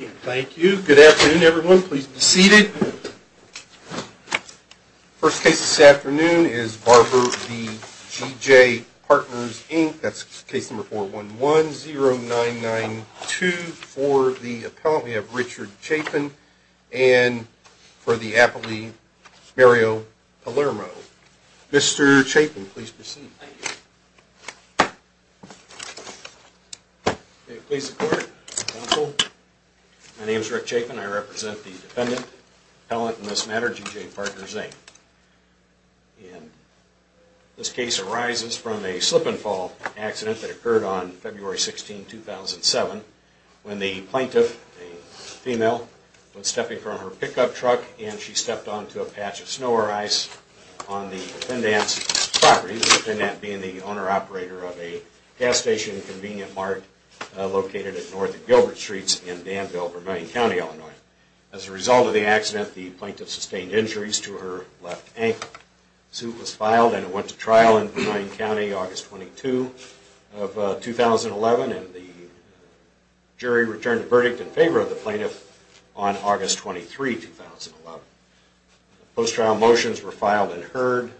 Thank you. Good afternoon, everyone. Please be seated. First case this afternoon is Barber v.. G.J. Partners, Inc. That's case number 4110992 for the appellant. We have Richard Chapin and for the appellee, Mario Palermo. Mr. Chapin, please proceed. Thank you. May it please the court, counsel, my name is Rick Chapin. I represent the defendant, appellant in this matter, G.J. Partners, Inc. This case arises from a slip-and-fall accident that occurred on February 16, 2007 when the plaintiff, a female, was stepping from her pickup truck and she stepped onto a patch of snow or ice on the defendant's property, the defendant being the owner-operator of a gas station and convenient mart located at North Gilbert Streets in Danville, Vermilion County, Illinois. As a result of the accident, the plaintiff sustained injuries to her left ankle. A suit was filed and it went to trial in Vermilion County August 22, 2011 and the jury returned the verdict in favor of the plaintiff on August 23, 2011. Post-trial motions were filed and heard.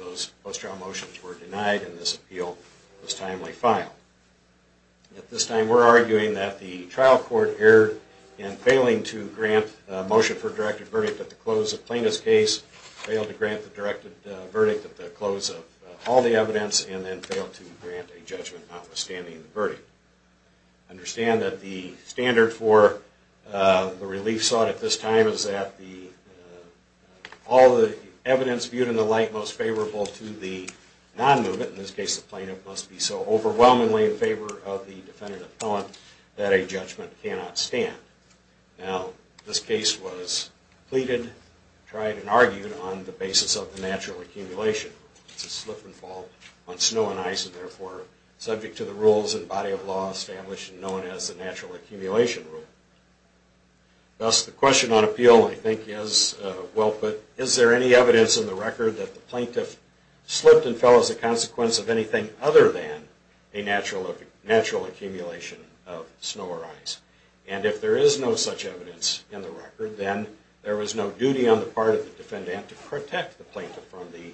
Those post-trial motions were denied and this appeal was timely filed. At this time, we're arguing that the trial court erred in failing to grant a motion for a directed verdict at the close of the plaintiff's case, failed to grant the directed verdict at the close of all the evidence, and then failed to grant a judgment notwithstanding the verdict. Understand that the standard for the relief sought at this time is that all the evidence viewed in the light most favorable to the non-movement, in this case the plaintiff, must be so overwhelmingly in favor of the defendant or the felon that a judgment cannot stand. Now, this case was pleaded, tried, and argued on the basis of the natural accumulation. It's a slip and fall on snow and ice and, therefore, subject to the rules and body of law established and known as the natural accumulation rule. Thus, the question on appeal, I think, is, well put, is there any evidence in the record that the plaintiff slipped and fell as a consequence of anything other than a natural accumulation of snow or ice? And if there is no such evidence in the record, then there was no duty on the part of the defendant to protect the plaintiff from the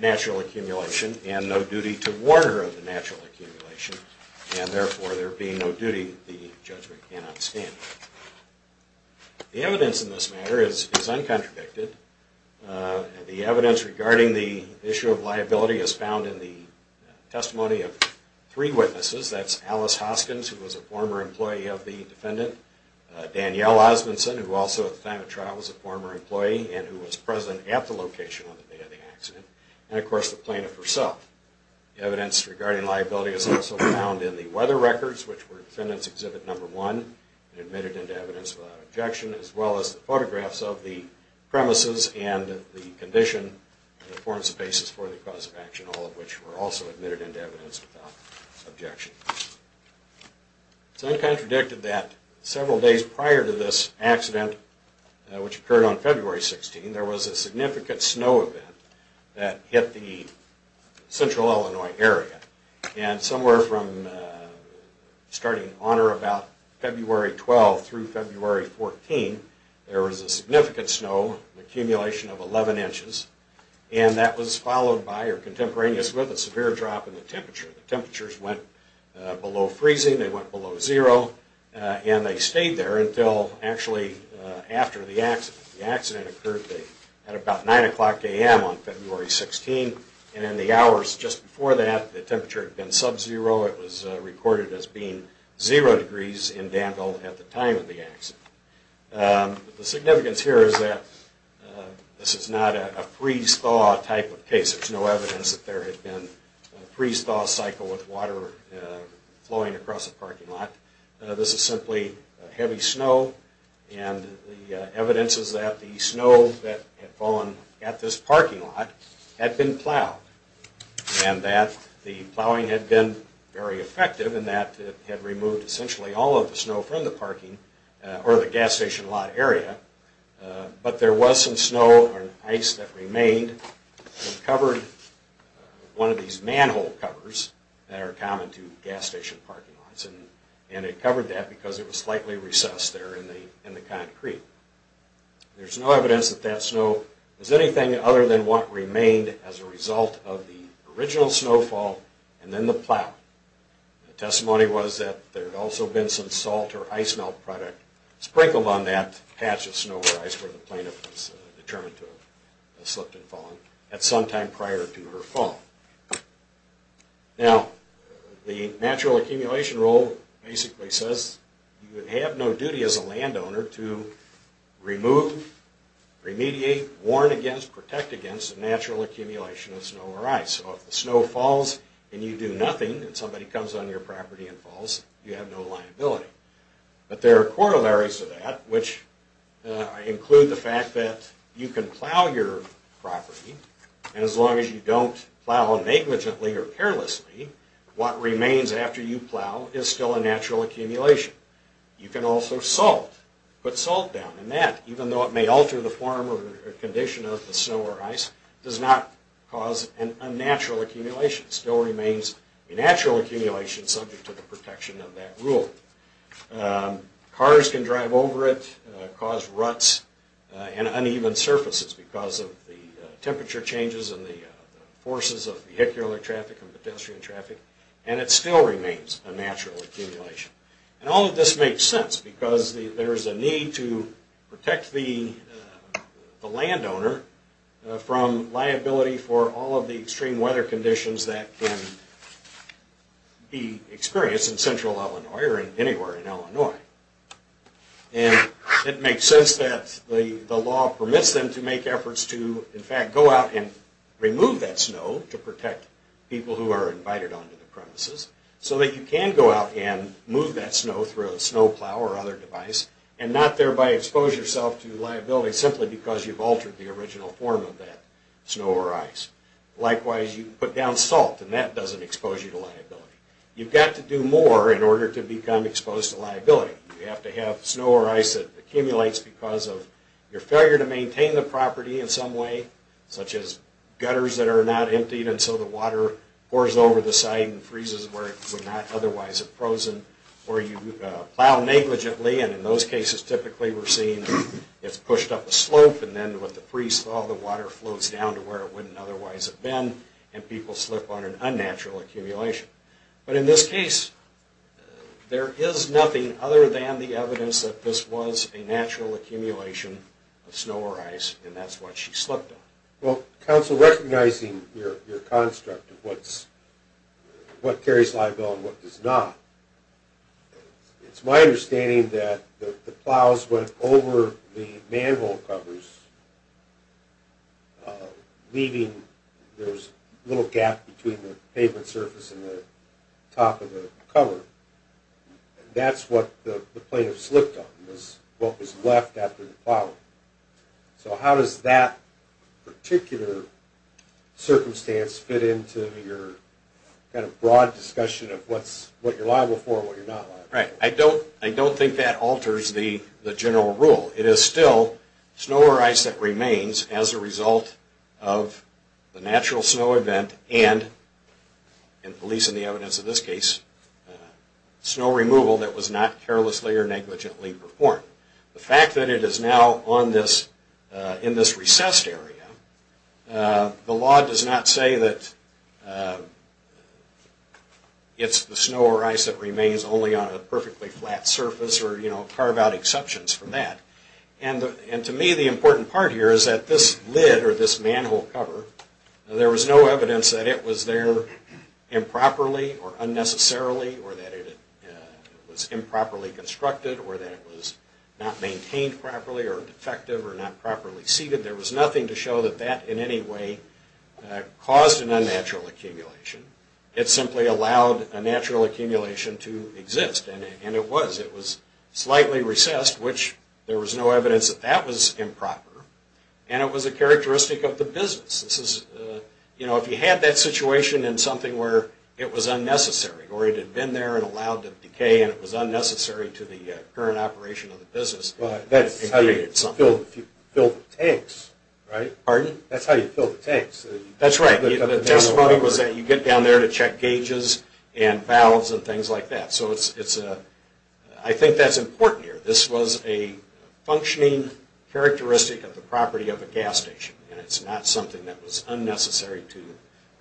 natural accumulation and no duty to warn her of the natural accumulation, and, therefore, there being no duty, the judgment cannot stand. The evidence in this matter is uncontradicted. The evidence regarding the issue of liability is found in the testimony of three witnesses. That's Alice Hoskins, who was a former employee of the defendant, Danielle Osmundson, who also at the time of trial was a former employee and who was present at the location on the day of the accident, and, of course, the plaintiff herself. Evidence regarding liability is also found in the weather records, which were Defendant's Exhibit No. 1 and admitted into evidence without objection, as well as the photographs of the premises and the condition that forms the basis for the cause of action, all of which were also admitted into evidence without objection. It's uncontradicted that several days prior to this accident, which occurred on February 16, there was a significant snow event that hit the central Illinois area, and somewhere from starting on or about February 12 through February 14, there was a significant snow, an accumulation of 11 inches, and that was followed by or contemporaneous with a severe drop in the temperature. The temperatures went below freezing, they went below zero, and they stayed there until actually after the accident. The accident occurred at about 9 o'clock a.m. on February 16, and in the hours just before that, the temperature had been sub-zero. It was recorded as being zero degrees in Danville at the time of the accident. The significance here is that this is not a freeze-thaw type of case. There's no evidence that there had been a freeze-thaw cycle with water flowing across a parking lot. This is simply heavy snow, and the evidence is that the snow that had fallen at this parking lot had been plowed, and that the plowing had been very effective and that it had removed essentially all of the snow from the parking or the gas station lot area, but there was some snow or ice that remained and covered one of these manhole covers that are common to gas station parking lots, and it covered that because it was slightly recessed there in the concrete. There's no evidence that that snow was anything other than what remained as a result of the original snowfall and then the plow. The testimony was that there had also been some salt or ice melt product sprinkled on that patch of snow or ice where the plaintiff was determined to have slipped and fallen at some time prior to her fall. Now, the natural accumulation rule basically says you have no duty as a landowner to remove, remediate, warn against, protect against the natural accumulation of snow or ice. So if the snow falls and you do nothing and somebody comes on your property and falls, you have no liability. But there are corollaries to that which include the fact that you can plow your property and as long as you don't plow negligently or carelessly, what remains after you plow is still a natural accumulation. You can also salt, put salt down, and that, even though it may alter the form or condition of the snow or ice, does not cause an unnatural accumulation. It still remains a natural accumulation subject to the protection of that rule. Cars can drive over it, cause ruts and uneven surfaces because of the temperature changes and the forces of vehicular traffic and pedestrian traffic, and it still remains a natural accumulation. And all of this makes sense because there is a need to protect the landowner from liability for all of the extreme weather conditions that can be experienced in central Illinois or anywhere in Illinois. And it makes sense that the law permits them to make efforts to, in fact, go out and remove that snow to protect people who are invited onto the premises so that you can go out and move that snow through a snow plow or other device and not thereby expose yourself to liability simply because you've altered the original form of that snow or ice. Likewise, you put down salt and that doesn't expose you to liability. You've got to do more in order to become exposed to liability. You have to have snow or ice that accumulates because of your failure to maintain the property in some way, such as gutters that are not emptied and so the water pours over the site and freezes where it would not otherwise have frozen. Or you plow negligently, and in those cases typically we're seeing it's pushed up a slope and then with the freeze thaw the water floats down to where it wouldn't otherwise have been and people slip on an unnatural accumulation. But in this case, there is nothing other than the evidence that this was a natural accumulation of snow or ice and that's what she slipped on. Well, counsel, recognizing your construct of what carries liability and what does not, it's my understanding that the plows went over the manhole covers, leaving a little gap between the pavement surface and the top of the cover. That's what the plaintiff slipped on, what was left after the plowing. So how does that particular circumstance fit into your broad discussion of what you're liable for and what you're not liable for? I don't think that alters the general rule. It is still snow or ice that remains as a result of the natural snow event and, at least in the evidence of this case, snow removal that was not carelessly or negligently performed. The fact that it is now in this recessed area, the law does not say that it's the snow or ice that remains only on a perfectly flat surface or carve out exceptions from that. And to me the important part here is that this lid or this manhole cover, there was no evidence that it was there improperly or unnecessarily or that it was improperly constructed or that it was not maintained properly or defective or not properly seated. There was nothing to show that that in any way caused an unnatural accumulation. It simply allowed a natural accumulation to exist, and it was. It was slightly recessed, which there was no evidence that that was improper, and it was a characteristic of the business. You know, if you had that situation in something where it was unnecessary or it had been there and allowed to decay and it was unnecessary to the current operation of the business. That's how you fill the tanks, right? Pardon? That's how you fill the tanks. That's right. The testimony was that you get down there to check gauges and valves and things like that. So I think that's important here. This was a functioning characteristic of the property of a gas station, and it's not something that was unnecessary to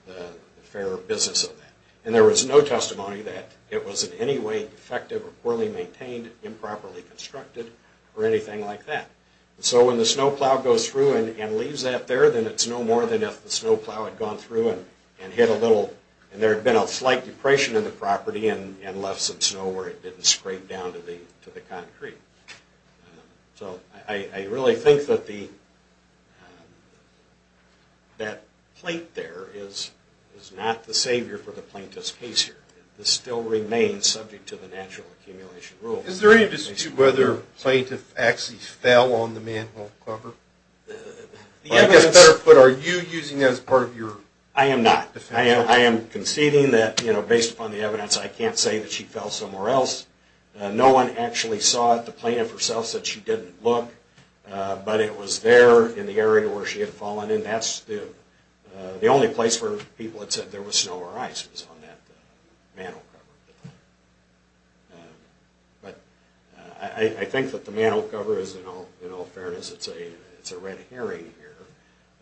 the fairer business of that. And there was no testimony that it was in any way defective or poorly maintained, improperly constructed, or anything like that. So when the snowplow goes through and leaves that there, then it's no more than if the snowplow had gone through and hit a little and there had been a slight depression in the property and left some snow where it didn't scrape down to the concrete. So I really think that that plate there is not the savior for the plaintiff's case here. This still remains subject to the natural accumulation rule. Is there any dispute whether the plaintiff actually fell on the manhole cover? I guess, better put, are you using that as part of your defense? I am not. I am conceding that, you know, based upon the evidence, I can't say that she fell somewhere else. No one actually saw it. The plaintiff herself said she didn't look, but it was there in the area where she had fallen, and that's the only place where people had said there was snow or ice was on that manhole cover. But I think that the manhole cover is, in all fairness, it's a red herring here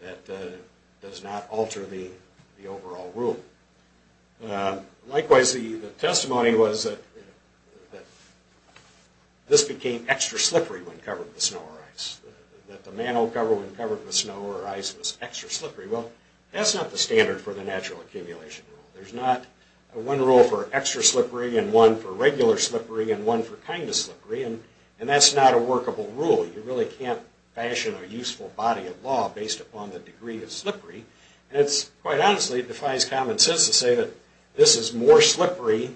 that does not alter the overall rule. Likewise, the testimony was that this became extra slippery when covered with snow or ice, that the manhole cover when covered with snow or ice was extra slippery. Well, that's not the standard for the natural accumulation rule. There's not one rule for extra slippery and one for regular slippery and one for kind of slippery, and that's not a workable rule. You really can't fashion a useful body of law based upon the degree of slippery. And it's quite honestly, it defies common sense to say that this is more slippery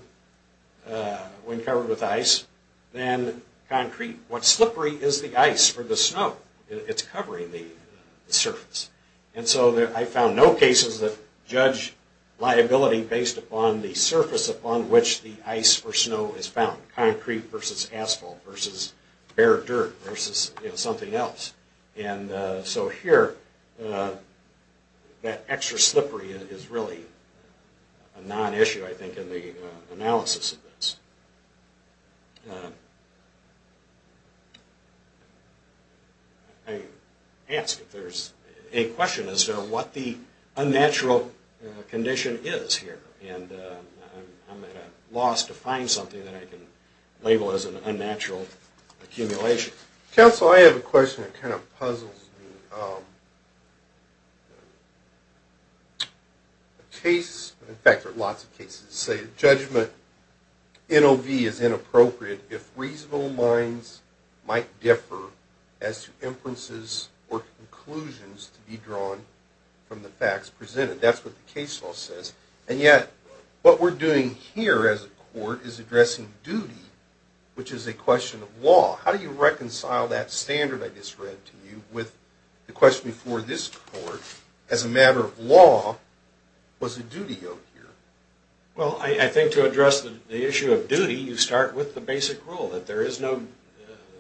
when covered with ice than concrete. What's slippery is the ice for the snow. It's covering the surface. And so I found no cases that judge liability based upon the surface upon which the ice or snow is found, concrete versus asphalt versus bare dirt versus something else. And so here, that extra slippery is really a non-issue, I think, in the analysis of this. I ask if there's a question as to what the unnatural condition is here. And I'm at a loss to find something that I can label as an unnatural accumulation. Counsel, I have a question that kind of puzzles me. In fact, there are lots of cases that say judgment NOV is inappropriate if reasonable minds might differ as to inferences or conclusions to be drawn from the facts presented. That's what the case law says. And yet, what we're doing here as a court is addressing duty, which is a question of law. How do you reconcile that standard I just read to you with the question before this court, as a matter of law, what's the duty out here? Well, I think to address the issue of duty, you start with the basic rule, that there is no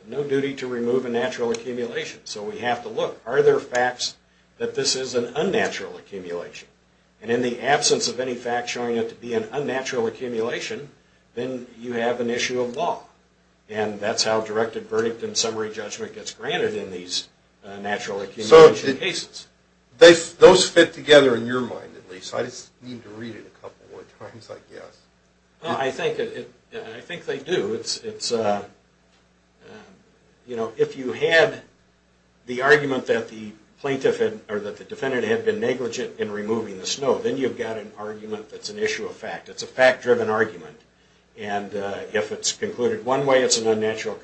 duty to remove a natural accumulation. So we have to look. Are there facts that this is an unnatural accumulation? And in the absence of any facts showing it to be an unnatural accumulation, then you have an issue of law. And that's how directed verdict and summary judgment gets granted in these natural accumulation cases. Those fit together in your mind, at least. I just need to read it a couple more times, I guess. I think they do. It's, you know, if you had the argument that the plaintiff or that the defendant had been negligent in removing the snow, then you've got an argument that's an issue of fact. It's a fact-driven argument. And if it's concluded one way, it's an unnatural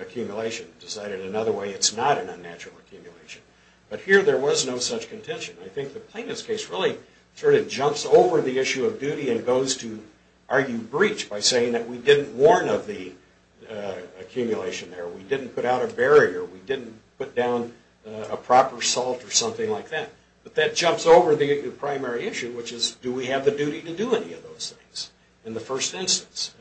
accumulation. If it's decided another way, it's not an unnatural accumulation. But here, there was no such contention. I think the plaintiff's case really sort of jumps over the issue of duty and goes to argue breach by saying that we didn't warn of the accumulation there. We didn't put out a barrier. We didn't put down a proper salt or something like that. But that jumps over the primary issue, which is do we have the duty to do any of those things in the first instance.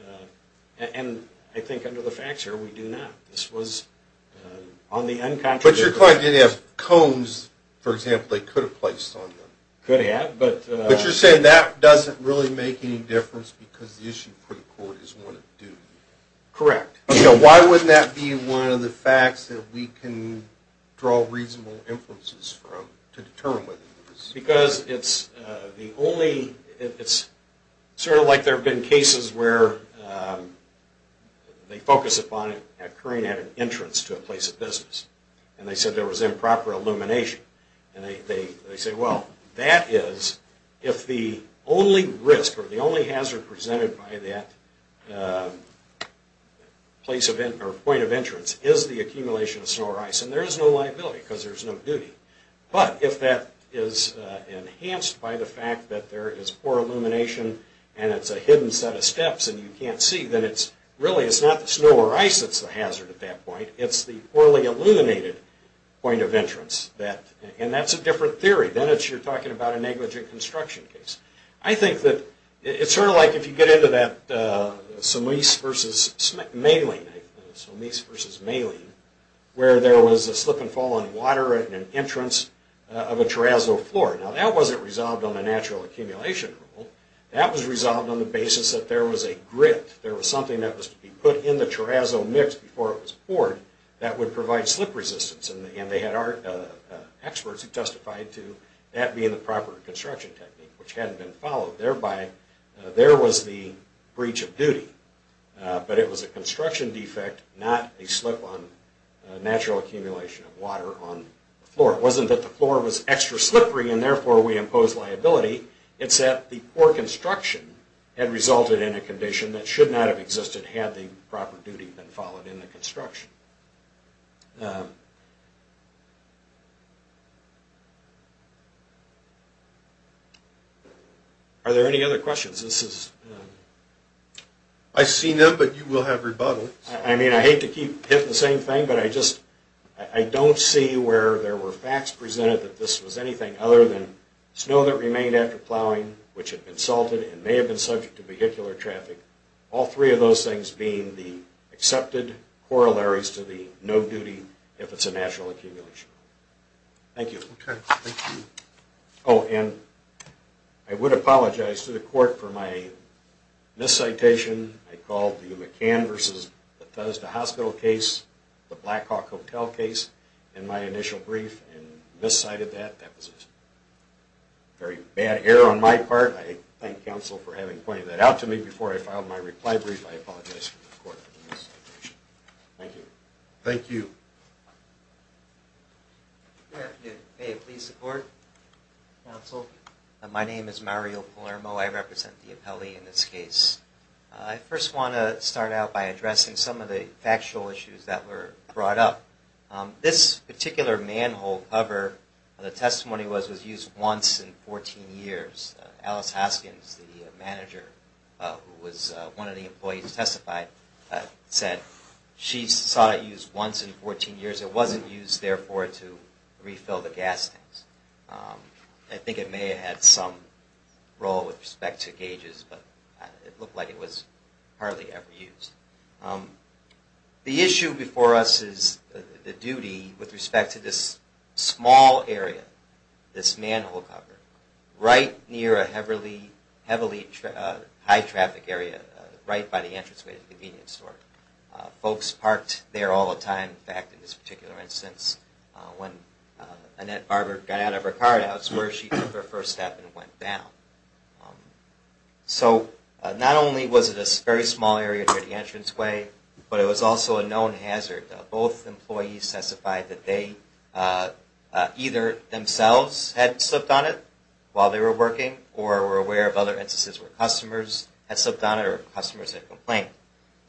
And I think under the facts here, we do not. This was on the uncontroversial grounds. But your client didn't have cones, for example, they could have placed on them. Could have. But you're saying that doesn't really make any difference because the issue for the court is one of duty. Correct. Okay, why wouldn't that be one of the facts that we can draw reasonable inferences from to determine what it is? Because it's sort of like there have been cases where they focus upon it occurring at an entrance to a place of business. And they said there was improper illumination. And they say, well, that is if the only risk or the only hazard presented by that point of entrance is the accumulation of snow or ice. And there is no liability because there is no duty. But if that is enhanced by the fact that there is poor illumination and it's a hidden set of steps and you can't see, then really it's not the snow or ice that's the hazard at that point. It's the poorly illuminated point of entrance. And that's a different theory. Then it's you're talking about a negligent construction case. I think that it's sort of like if you get into that Sommese versus Mahling where there was a slip and fall on water at an entrance of a terrazzo floor. Now that wasn't resolved on a natural accumulation rule. That was resolved on the basis that there was a grit. There was something that was to be put in the terrazzo mix before it was poured that would provide slip resistance. And they had experts who testified to that being the proper construction technique, which hadn't been followed. Thereby, there was the breach of duty. But it was a construction defect, not a slip on natural accumulation of water on the floor. It wasn't that the floor was extra slippery and therefore we imposed liability. It's that the poor construction had resulted in a condition that should not have existed had the proper duty been followed in the construction. Are there any other questions? I've seen them, but you will have rebuttals. I mean, I hate to keep hitting the same thing, but I don't see where there were facts presented that this was anything other than snow that remained after plowing, which had been salted and may have been subject to vehicular traffic. All three of those things being the accepted corollaries to the no duty if it's a natural accumulation rule. Thank you. Oh, and I would apologize to the court for my miscitation. I called the McCann v. Bethesda Hospital case, the Blackhawk Hotel case, in my initial brief and miscited that. That was a very bad error on my part. I thank counsel for having pointed that out to me before I filed my reply brief. I apologize to the court for my miscitation. Thank you. Thank you. Good afternoon. May it please the court, counsel. My name is Mario Palermo. I represent the appellee in this case. I first want to start out by addressing some of the factual issues that were brought up. This particular manhole cover, the testimony was, was used once in 14 years. Alice Hoskins, the manager who was one of the employees testified, said she saw it used once in 14 years. It wasn't used, therefore, to refill the gas tanks. I think it may have had some role with respect to gauges, but it looked like it was hardly ever used. The issue before us is the duty with respect to this small area, this manhole cover, right near a heavily, heavily high traffic area, right by the entranceway to the convenience store. Folks parked there all the time. In fact, in this particular instance, when Annette Barber got out of her car, that's where she took her first step and went down. So, not only was it a very small area near the entranceway, but it was also a known hazard. Both employees testified that they either themselves had slipped on it while they were working, or were aware of other instances where customers had slipped on it or customers had complained.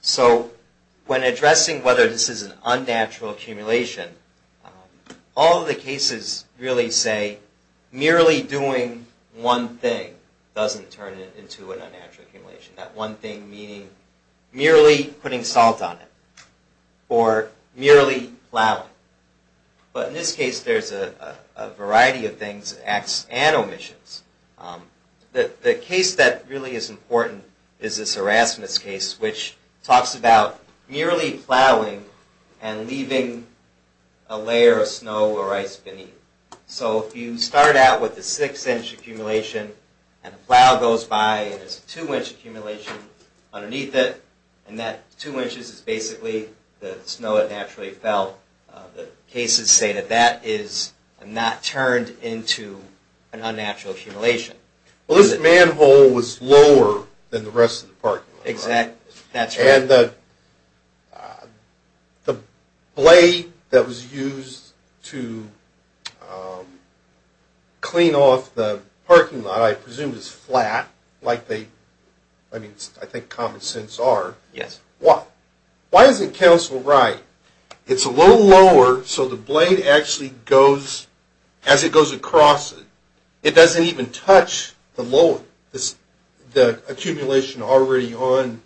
So, when addressing whether this is an unnatural accumulation, all of the cases really say, merely doing one thing doesn't turn it into an unnatural accumulation. That one thing meaning merely putting salt on it, or merely plowing. But in this case, there's a variety of things, acts and omissions. The case that really is important is this Erasmus case, which talks about merely plowing and leaving a layer of snow or ice beneath. So, if you start out with a six-inch accumulation and a plow goes by and there's a two-inch accumulation underneath it, and that two inches is basically the snow that naturally fell, the cases say that that is not turned into an unnatural accumulation. Well, this manhole was lower than the rest of the parking lot, right? Exactly. That's right. And the blade that was used to clean off the parking lot, I presume, is flat, like they, I mean, I think common sense are. Yes. Why isn't Council right? It's a little lower, so the blade actually goes, as it goes across it, it doesn't even touch the lower, the accumulation already on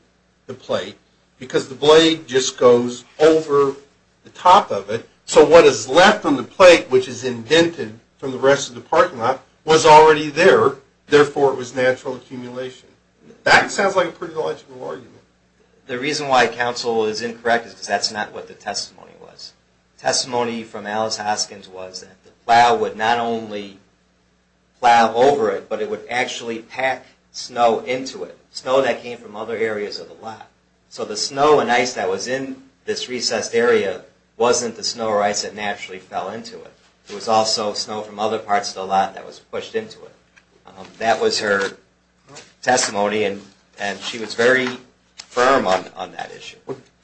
the plate, because the blade just goes over the top of it, so what is left on the plate, which is indented from the rest of the parking lot, was already there, therefore it was natural accumulation. That sounds like a pretty logical argument. The reason why Council is incorrect is because that's not what the testimony was. The testimony from Alice Hoskins was that the plow would not only plow over it, but it would actually pack snow into it, snow that came from other areas of the lot. So the snow and ice that was in this recessed area wasn't the snow or ice that naturally fell into it. It was also snow from other parts of the lot that was pushed into it. That was her testimony, and she was very firm on that issue.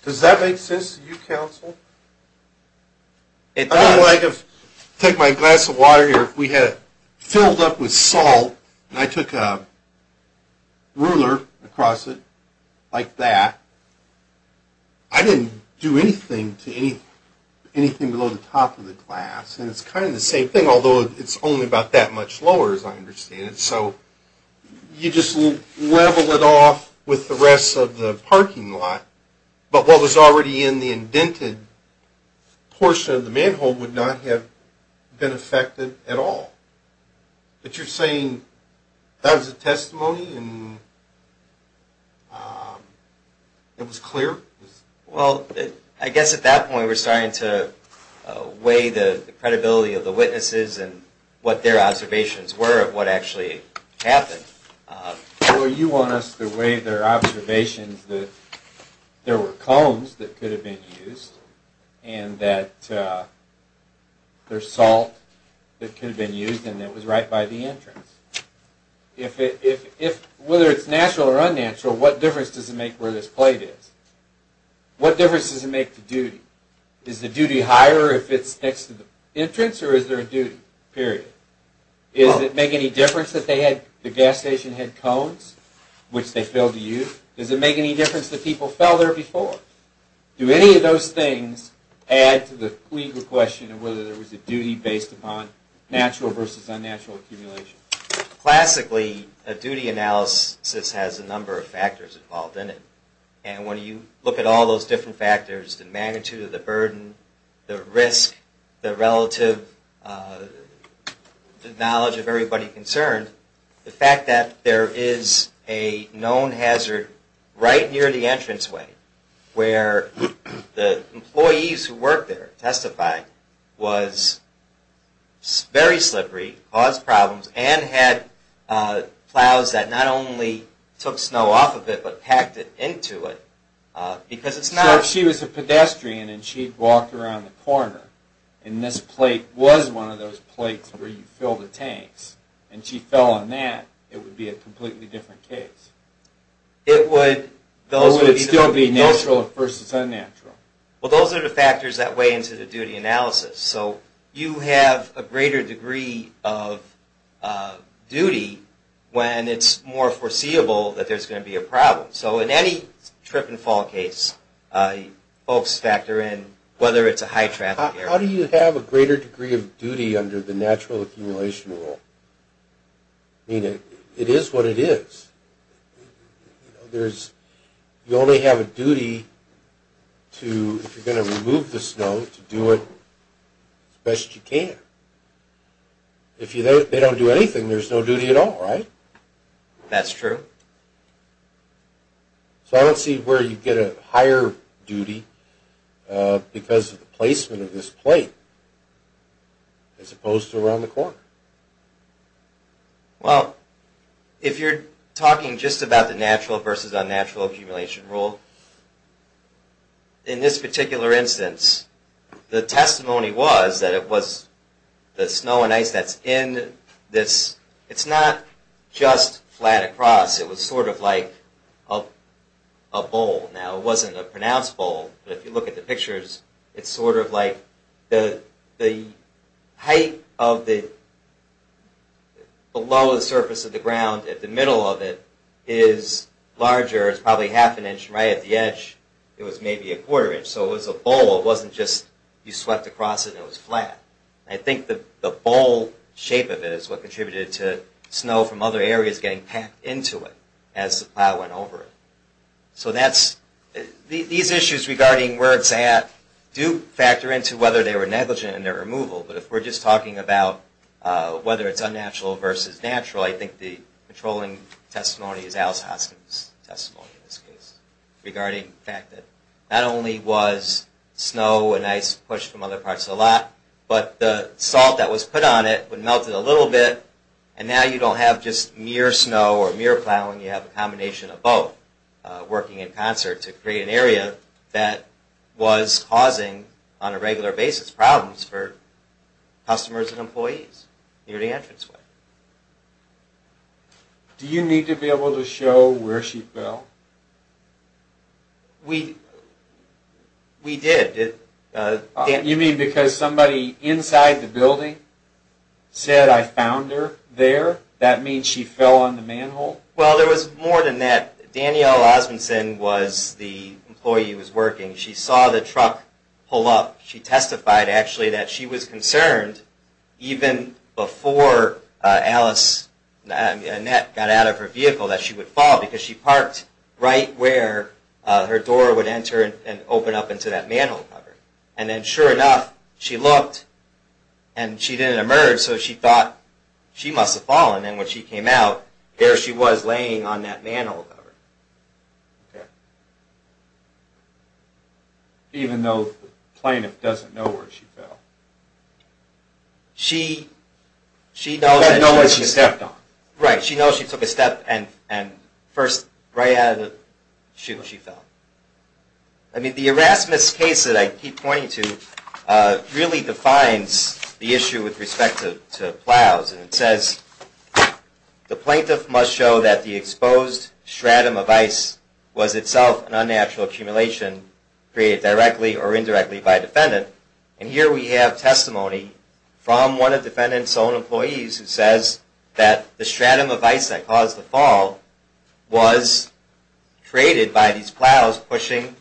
Does that make sense to you, Council? It does. I would like to take my glass of water here. If we had it filled up with salt, and I took a ruler across it like that, I didn't do anything to anything below the top of the glass, and it's kind of the same thing, although it's only about that much lower, as I understand it. So you just level it off with the rest of the parking lot, but what was already in the indented portion of the manhole would not have been affected at all. But you're saying that was a testimony, and it was clear? Well, I guess at that point we're starting to weigh the credibility of the witnesses and what their observations were of what actually happened. Well, you want us to weigh their observations that there were cones that could have been used, and that there's salt that could have been used, and it was right by the entrance. Whether it's natural or unnatural, what difference does it make where this plate is? What difference does it make to duty? Is the duty higher if it's next to the entrance, or is there a duty, period? Does it make any difference that the gas station had cones, which they filled to use? Does it make any difference that people fell there before? Do any of those things add to the legal question of whether there was a duty based upon natural versus unnatural accumulation? Classically, a duty analysis has a number of factors involved in it, and when you look at all those different factors, the magnitude of the burden, the risk, the relative knowledge of everybody concerned, the fact that there is a known hazard right near the entranceway where the employees who worked there testified was very slippery, caused problems, and had plows that not only took snow off of it, but packed it into it, because it's not... So if she was a pedestrian and she walked around the corner, and this plate was one of those plates where you fill the tanks, and she fell on that, it would be a completely different case. It would... Or would it still be natural versus unnatural? Well, those are the factors that weigh into the duty analysis. So you have a greater degree of duty when it's more foreseeable that there's going to be a problem. So in any trip and fall case, folks factor in whether it's a high traffic area. How do you have a greater degree of duty under the natural accumulation rule? I mean, it is what it is. You only have a duty to, if you're going to remove the snow, to do it as best you can. If they don't do anything, there's no duty at all, right? That's true. So I don't see where you get a higher duty because of the placement of this plate as opposed to around the corner. Well, if you're talking just about the natural versus unnatural accumulation rule, in this particular instance, the testimony was that it was the snow and ice that's in this... It's not just flat across. It was sort of like a bowl. Now, it wasn't a pronounced bowl, but if you look at the pictures, it's sort of like the height below the surface of the ground at the middle of it is larger. It's probably half an inch right at the edge. It was maybe a quarter inch. So it was a bowl. It wasn't just you swept across it and it was flat. I think the bowl shape of it is what contributed to snow from other areas getting packed into it as the plow went over it. These issues regarding where it's at do factor into whether they were negligent in their removal, but if we're just talking about whether it's unnatural versus natural, I think the controlling testimony is Alice Hoskins' testimony in this case regarding the fact that not only was snow and ice pushed from other parts a lot, but the salt that was put on it would melt it a little bit, and now you don't have just mere snow or mere plowing. You have a combination of both working in concert to create an area that was causing, on a regular basis, problems for customers and employees near the entranceway. Do you need to be able to show where she fell? We did. You mean because somebody inside the building said, That means she fell on the manhole? Well, there was more than that. Danielle Osmunson was the employee who was working. She saw the truck pull up. She testified, actually, that she was concerned, even before Alice and Annette got out of her vehicle, that she would fall because she parked right where her door would enter and open up into that manhole cover. And then, sure enough, she looked, and she didn't emerge, so she thought she must have fallen. And when she came out, there she was laying on that manhole cover. Even though the plaintiff doesn't know where she fell. She doesn't know where she stepped on. Right. She knows she took a step and first, right out of the shoe, she fell. I mean, the Erasmus case that I keep pointing to really defines the issue with respect to plows. It says, The plaintiff must show that the exposed stratum of ice was itself an unnatural accumulation created directly or indirectly by a defendant. And here we have testimony from one of the defendant's own employees who says that the stratum of ice that caused the fall was created by these plows pushing,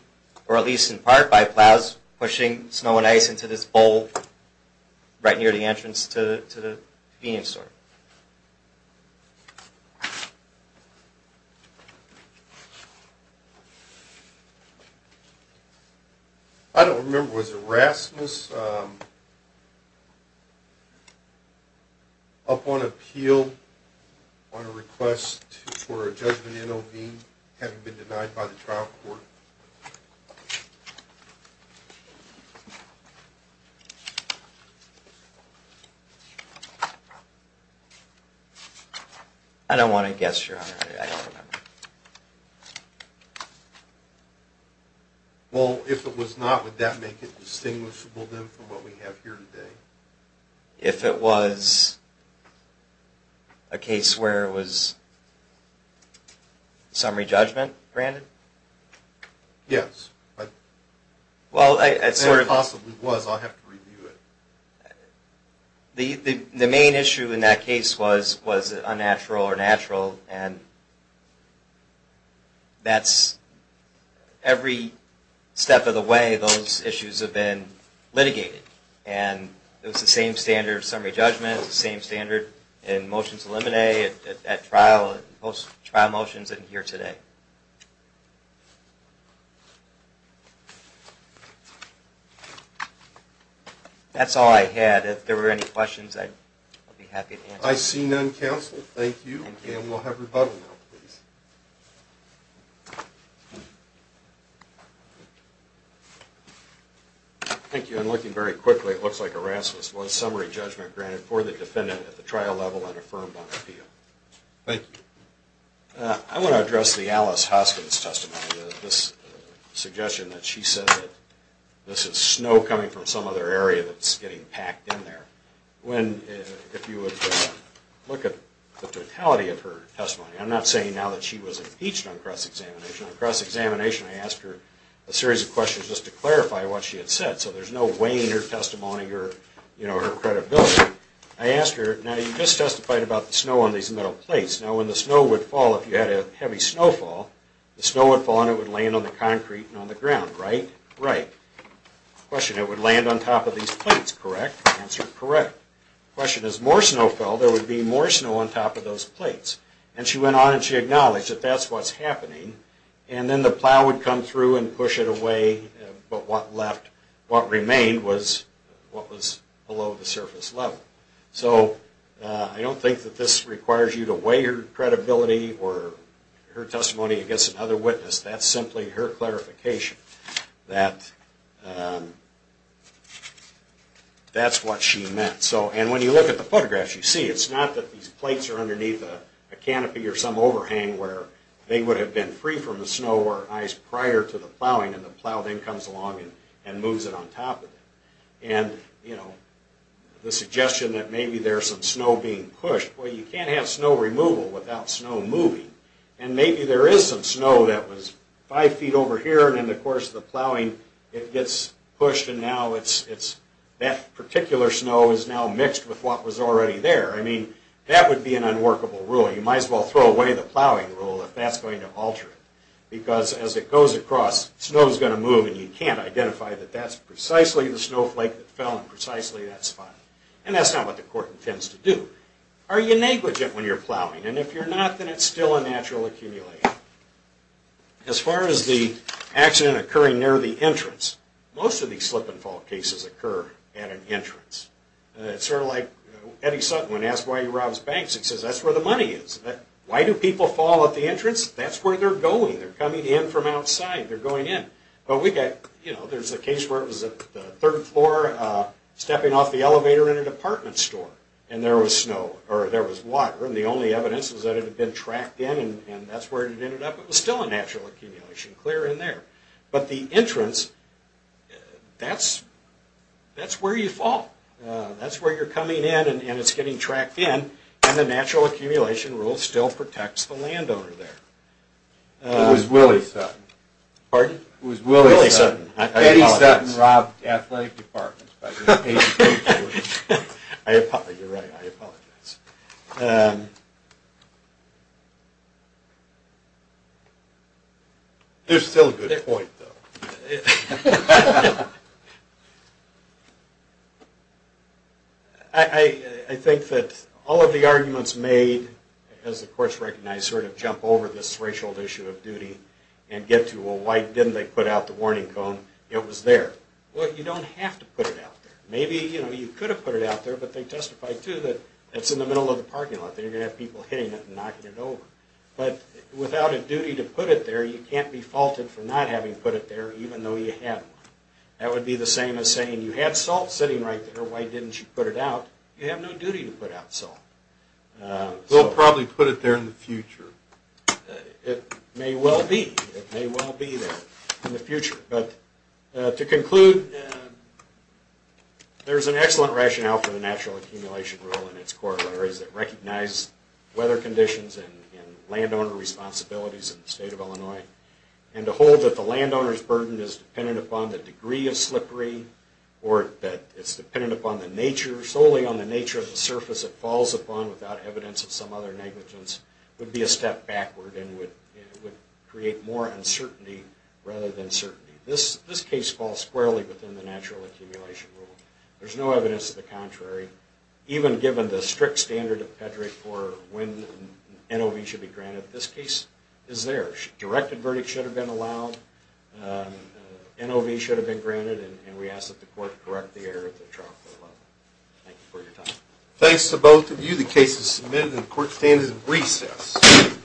or at least in part by plows pushing snow and ice into this bowl right near the entrance to the convenience store. I don't remember. Was it Erasmus? Was Erasmus up on appeal on a request for a judgment in OB having been denied by the trial court? I don't want to guess, Your Honor. I don't remember. Well, if it was not, would that make it distinguishable, then, from what we have here today? If it was a case where it was summary judgment, Brandon? Yes. If it possibly was, I'll have to review it. The main issue in that case was, was it unnatural or natural and that's every step of the way those issues have been litigated. And it was the same standard of summary judgment, the same standard in motions eliminate at trial, post-trial motions, and here today. That's all I had. If there were any questions, I'd be happy to answer. I see none, counsel. Thank you. And we'll have rebuttal now, please. Thank you. And looking very quickly, it looks like Erasmus was summary judgment granted for the defendant at the trial level and affirmed on appeal. Thank you. I want to address the Alice Hoskins testimony, this suggestion that she said that this is snow coming from some other area that's getting packed in there. When, if you would look at the totality of her testimony, I'm not saying now that she was impeached on cross-examination. On cross-examination, I asked her a series of questions just to clarify what she had said. So there's no weighing her testimony or her credibility. I asked her, now you just testified about the snow on these metal plates. Now when the snow would fall, if you had a heavy snowfall, the snow would fall and it would land on the concrete and on the ground, right? Right. Question, it would land on top of these plates, correct? Answer, correct. Question, if more snow fell, there would be more snow on top of those plates. And she went on and she acknowledged that that's what's happening. And then the plow would come through and push it away, but what left, what remained was what was below the surface level. So I don't think that this requires you to weigh your credibility or her testimony against another witness. That's simply her clarification. That, that's what she meant. So, and when you look at the photographs you see, it's not that these plates are underneath a canopy or some overhang where they would have been free from the snow or ice prior to the plowing and the plow then comes along and moves it on top of it. And, you know, the suggestion that maybe there's some snow being pushed, well you can't have snow removal without snow moving. And maybe there is some snow that was five feet over here and in the course of the plowing it gets pushed and now it's, that particular snow is now mixed with what was already there. I mean, that would be an unworkable rule. You might as well throw away the plowing rule if that's going to alter it. Because as it goes across, snow's going to move and you can't identify that that's precisely the snowflake that fell in precisely that spot. And that's not what the court intends to do. Are you negligent when you're plowing? And if you're not, then it's still a natural accumulation. As far as the accident occurring near the entrance, most of these slip and fall cases occur at an entrance. It's sort of like Eddie Sutton, when asked why he robs banks, he says that's where the money is. Why do people fall at the entrance? That's where they're going. They're coming in from outside. They're going in. But we got, you know, there's a case where it was a third floor stepping off the elevator in a department store and there was water and the only evidence was that it had been tracked in and that's where it ended up. It was still a natural accumulation, clear in there. But the entrance, that's where you fall. That's where you're coming in and it's getting tracked in and the natural accumulation rule still protects the landowner there. It was Willie Sutton. Pardon? It was Willie Sutton. Eddie Sutton robbed athletic departments You're right. I apologize. There's still a good point though. I think that all of the arguments made, as the courts recognize, sort of jump over this racial issue of duty and get to well why didn't they put out the warning cone? It was there. Well you don't have to put it out there. Maybe you could have put it out there but they testified too that it's in the middle of the parking lot and you're going to have people hitting it and knocking it over. But without a duty to put it there you can't be faulted for not having put it there even though you had one. That would be the same as saying you had salt sitting right there why didn't you put it out? You have no duty to put out salt. They'll probably put it there in the future. It may well be. It may well be there in the future but to conclude there's an excellent rationale for the natural accumulation rule and its corollaries that recognize weather conditions and landowner responsibilities in the state of Illinois and to hold that the landowner's burden is dependent upon the degree of slippery or that it's dependent upon the nature, solely on the nature of the surface it falls upon without evidence of some other negligence would be a step backward and would create more uncertainty rather than certainty. This case falls squarely within the natural accumulation rule. There's no evidence of the contrary. Even given the strict standard of pedigree for when NOV should be granted, this case is there. Directed verdict should have been allowed NOV should have been granted and we ask that the court correct the error at the trial court level. Thank you for your time. Thanks to both of you. The case is submitted and the court stands in recess.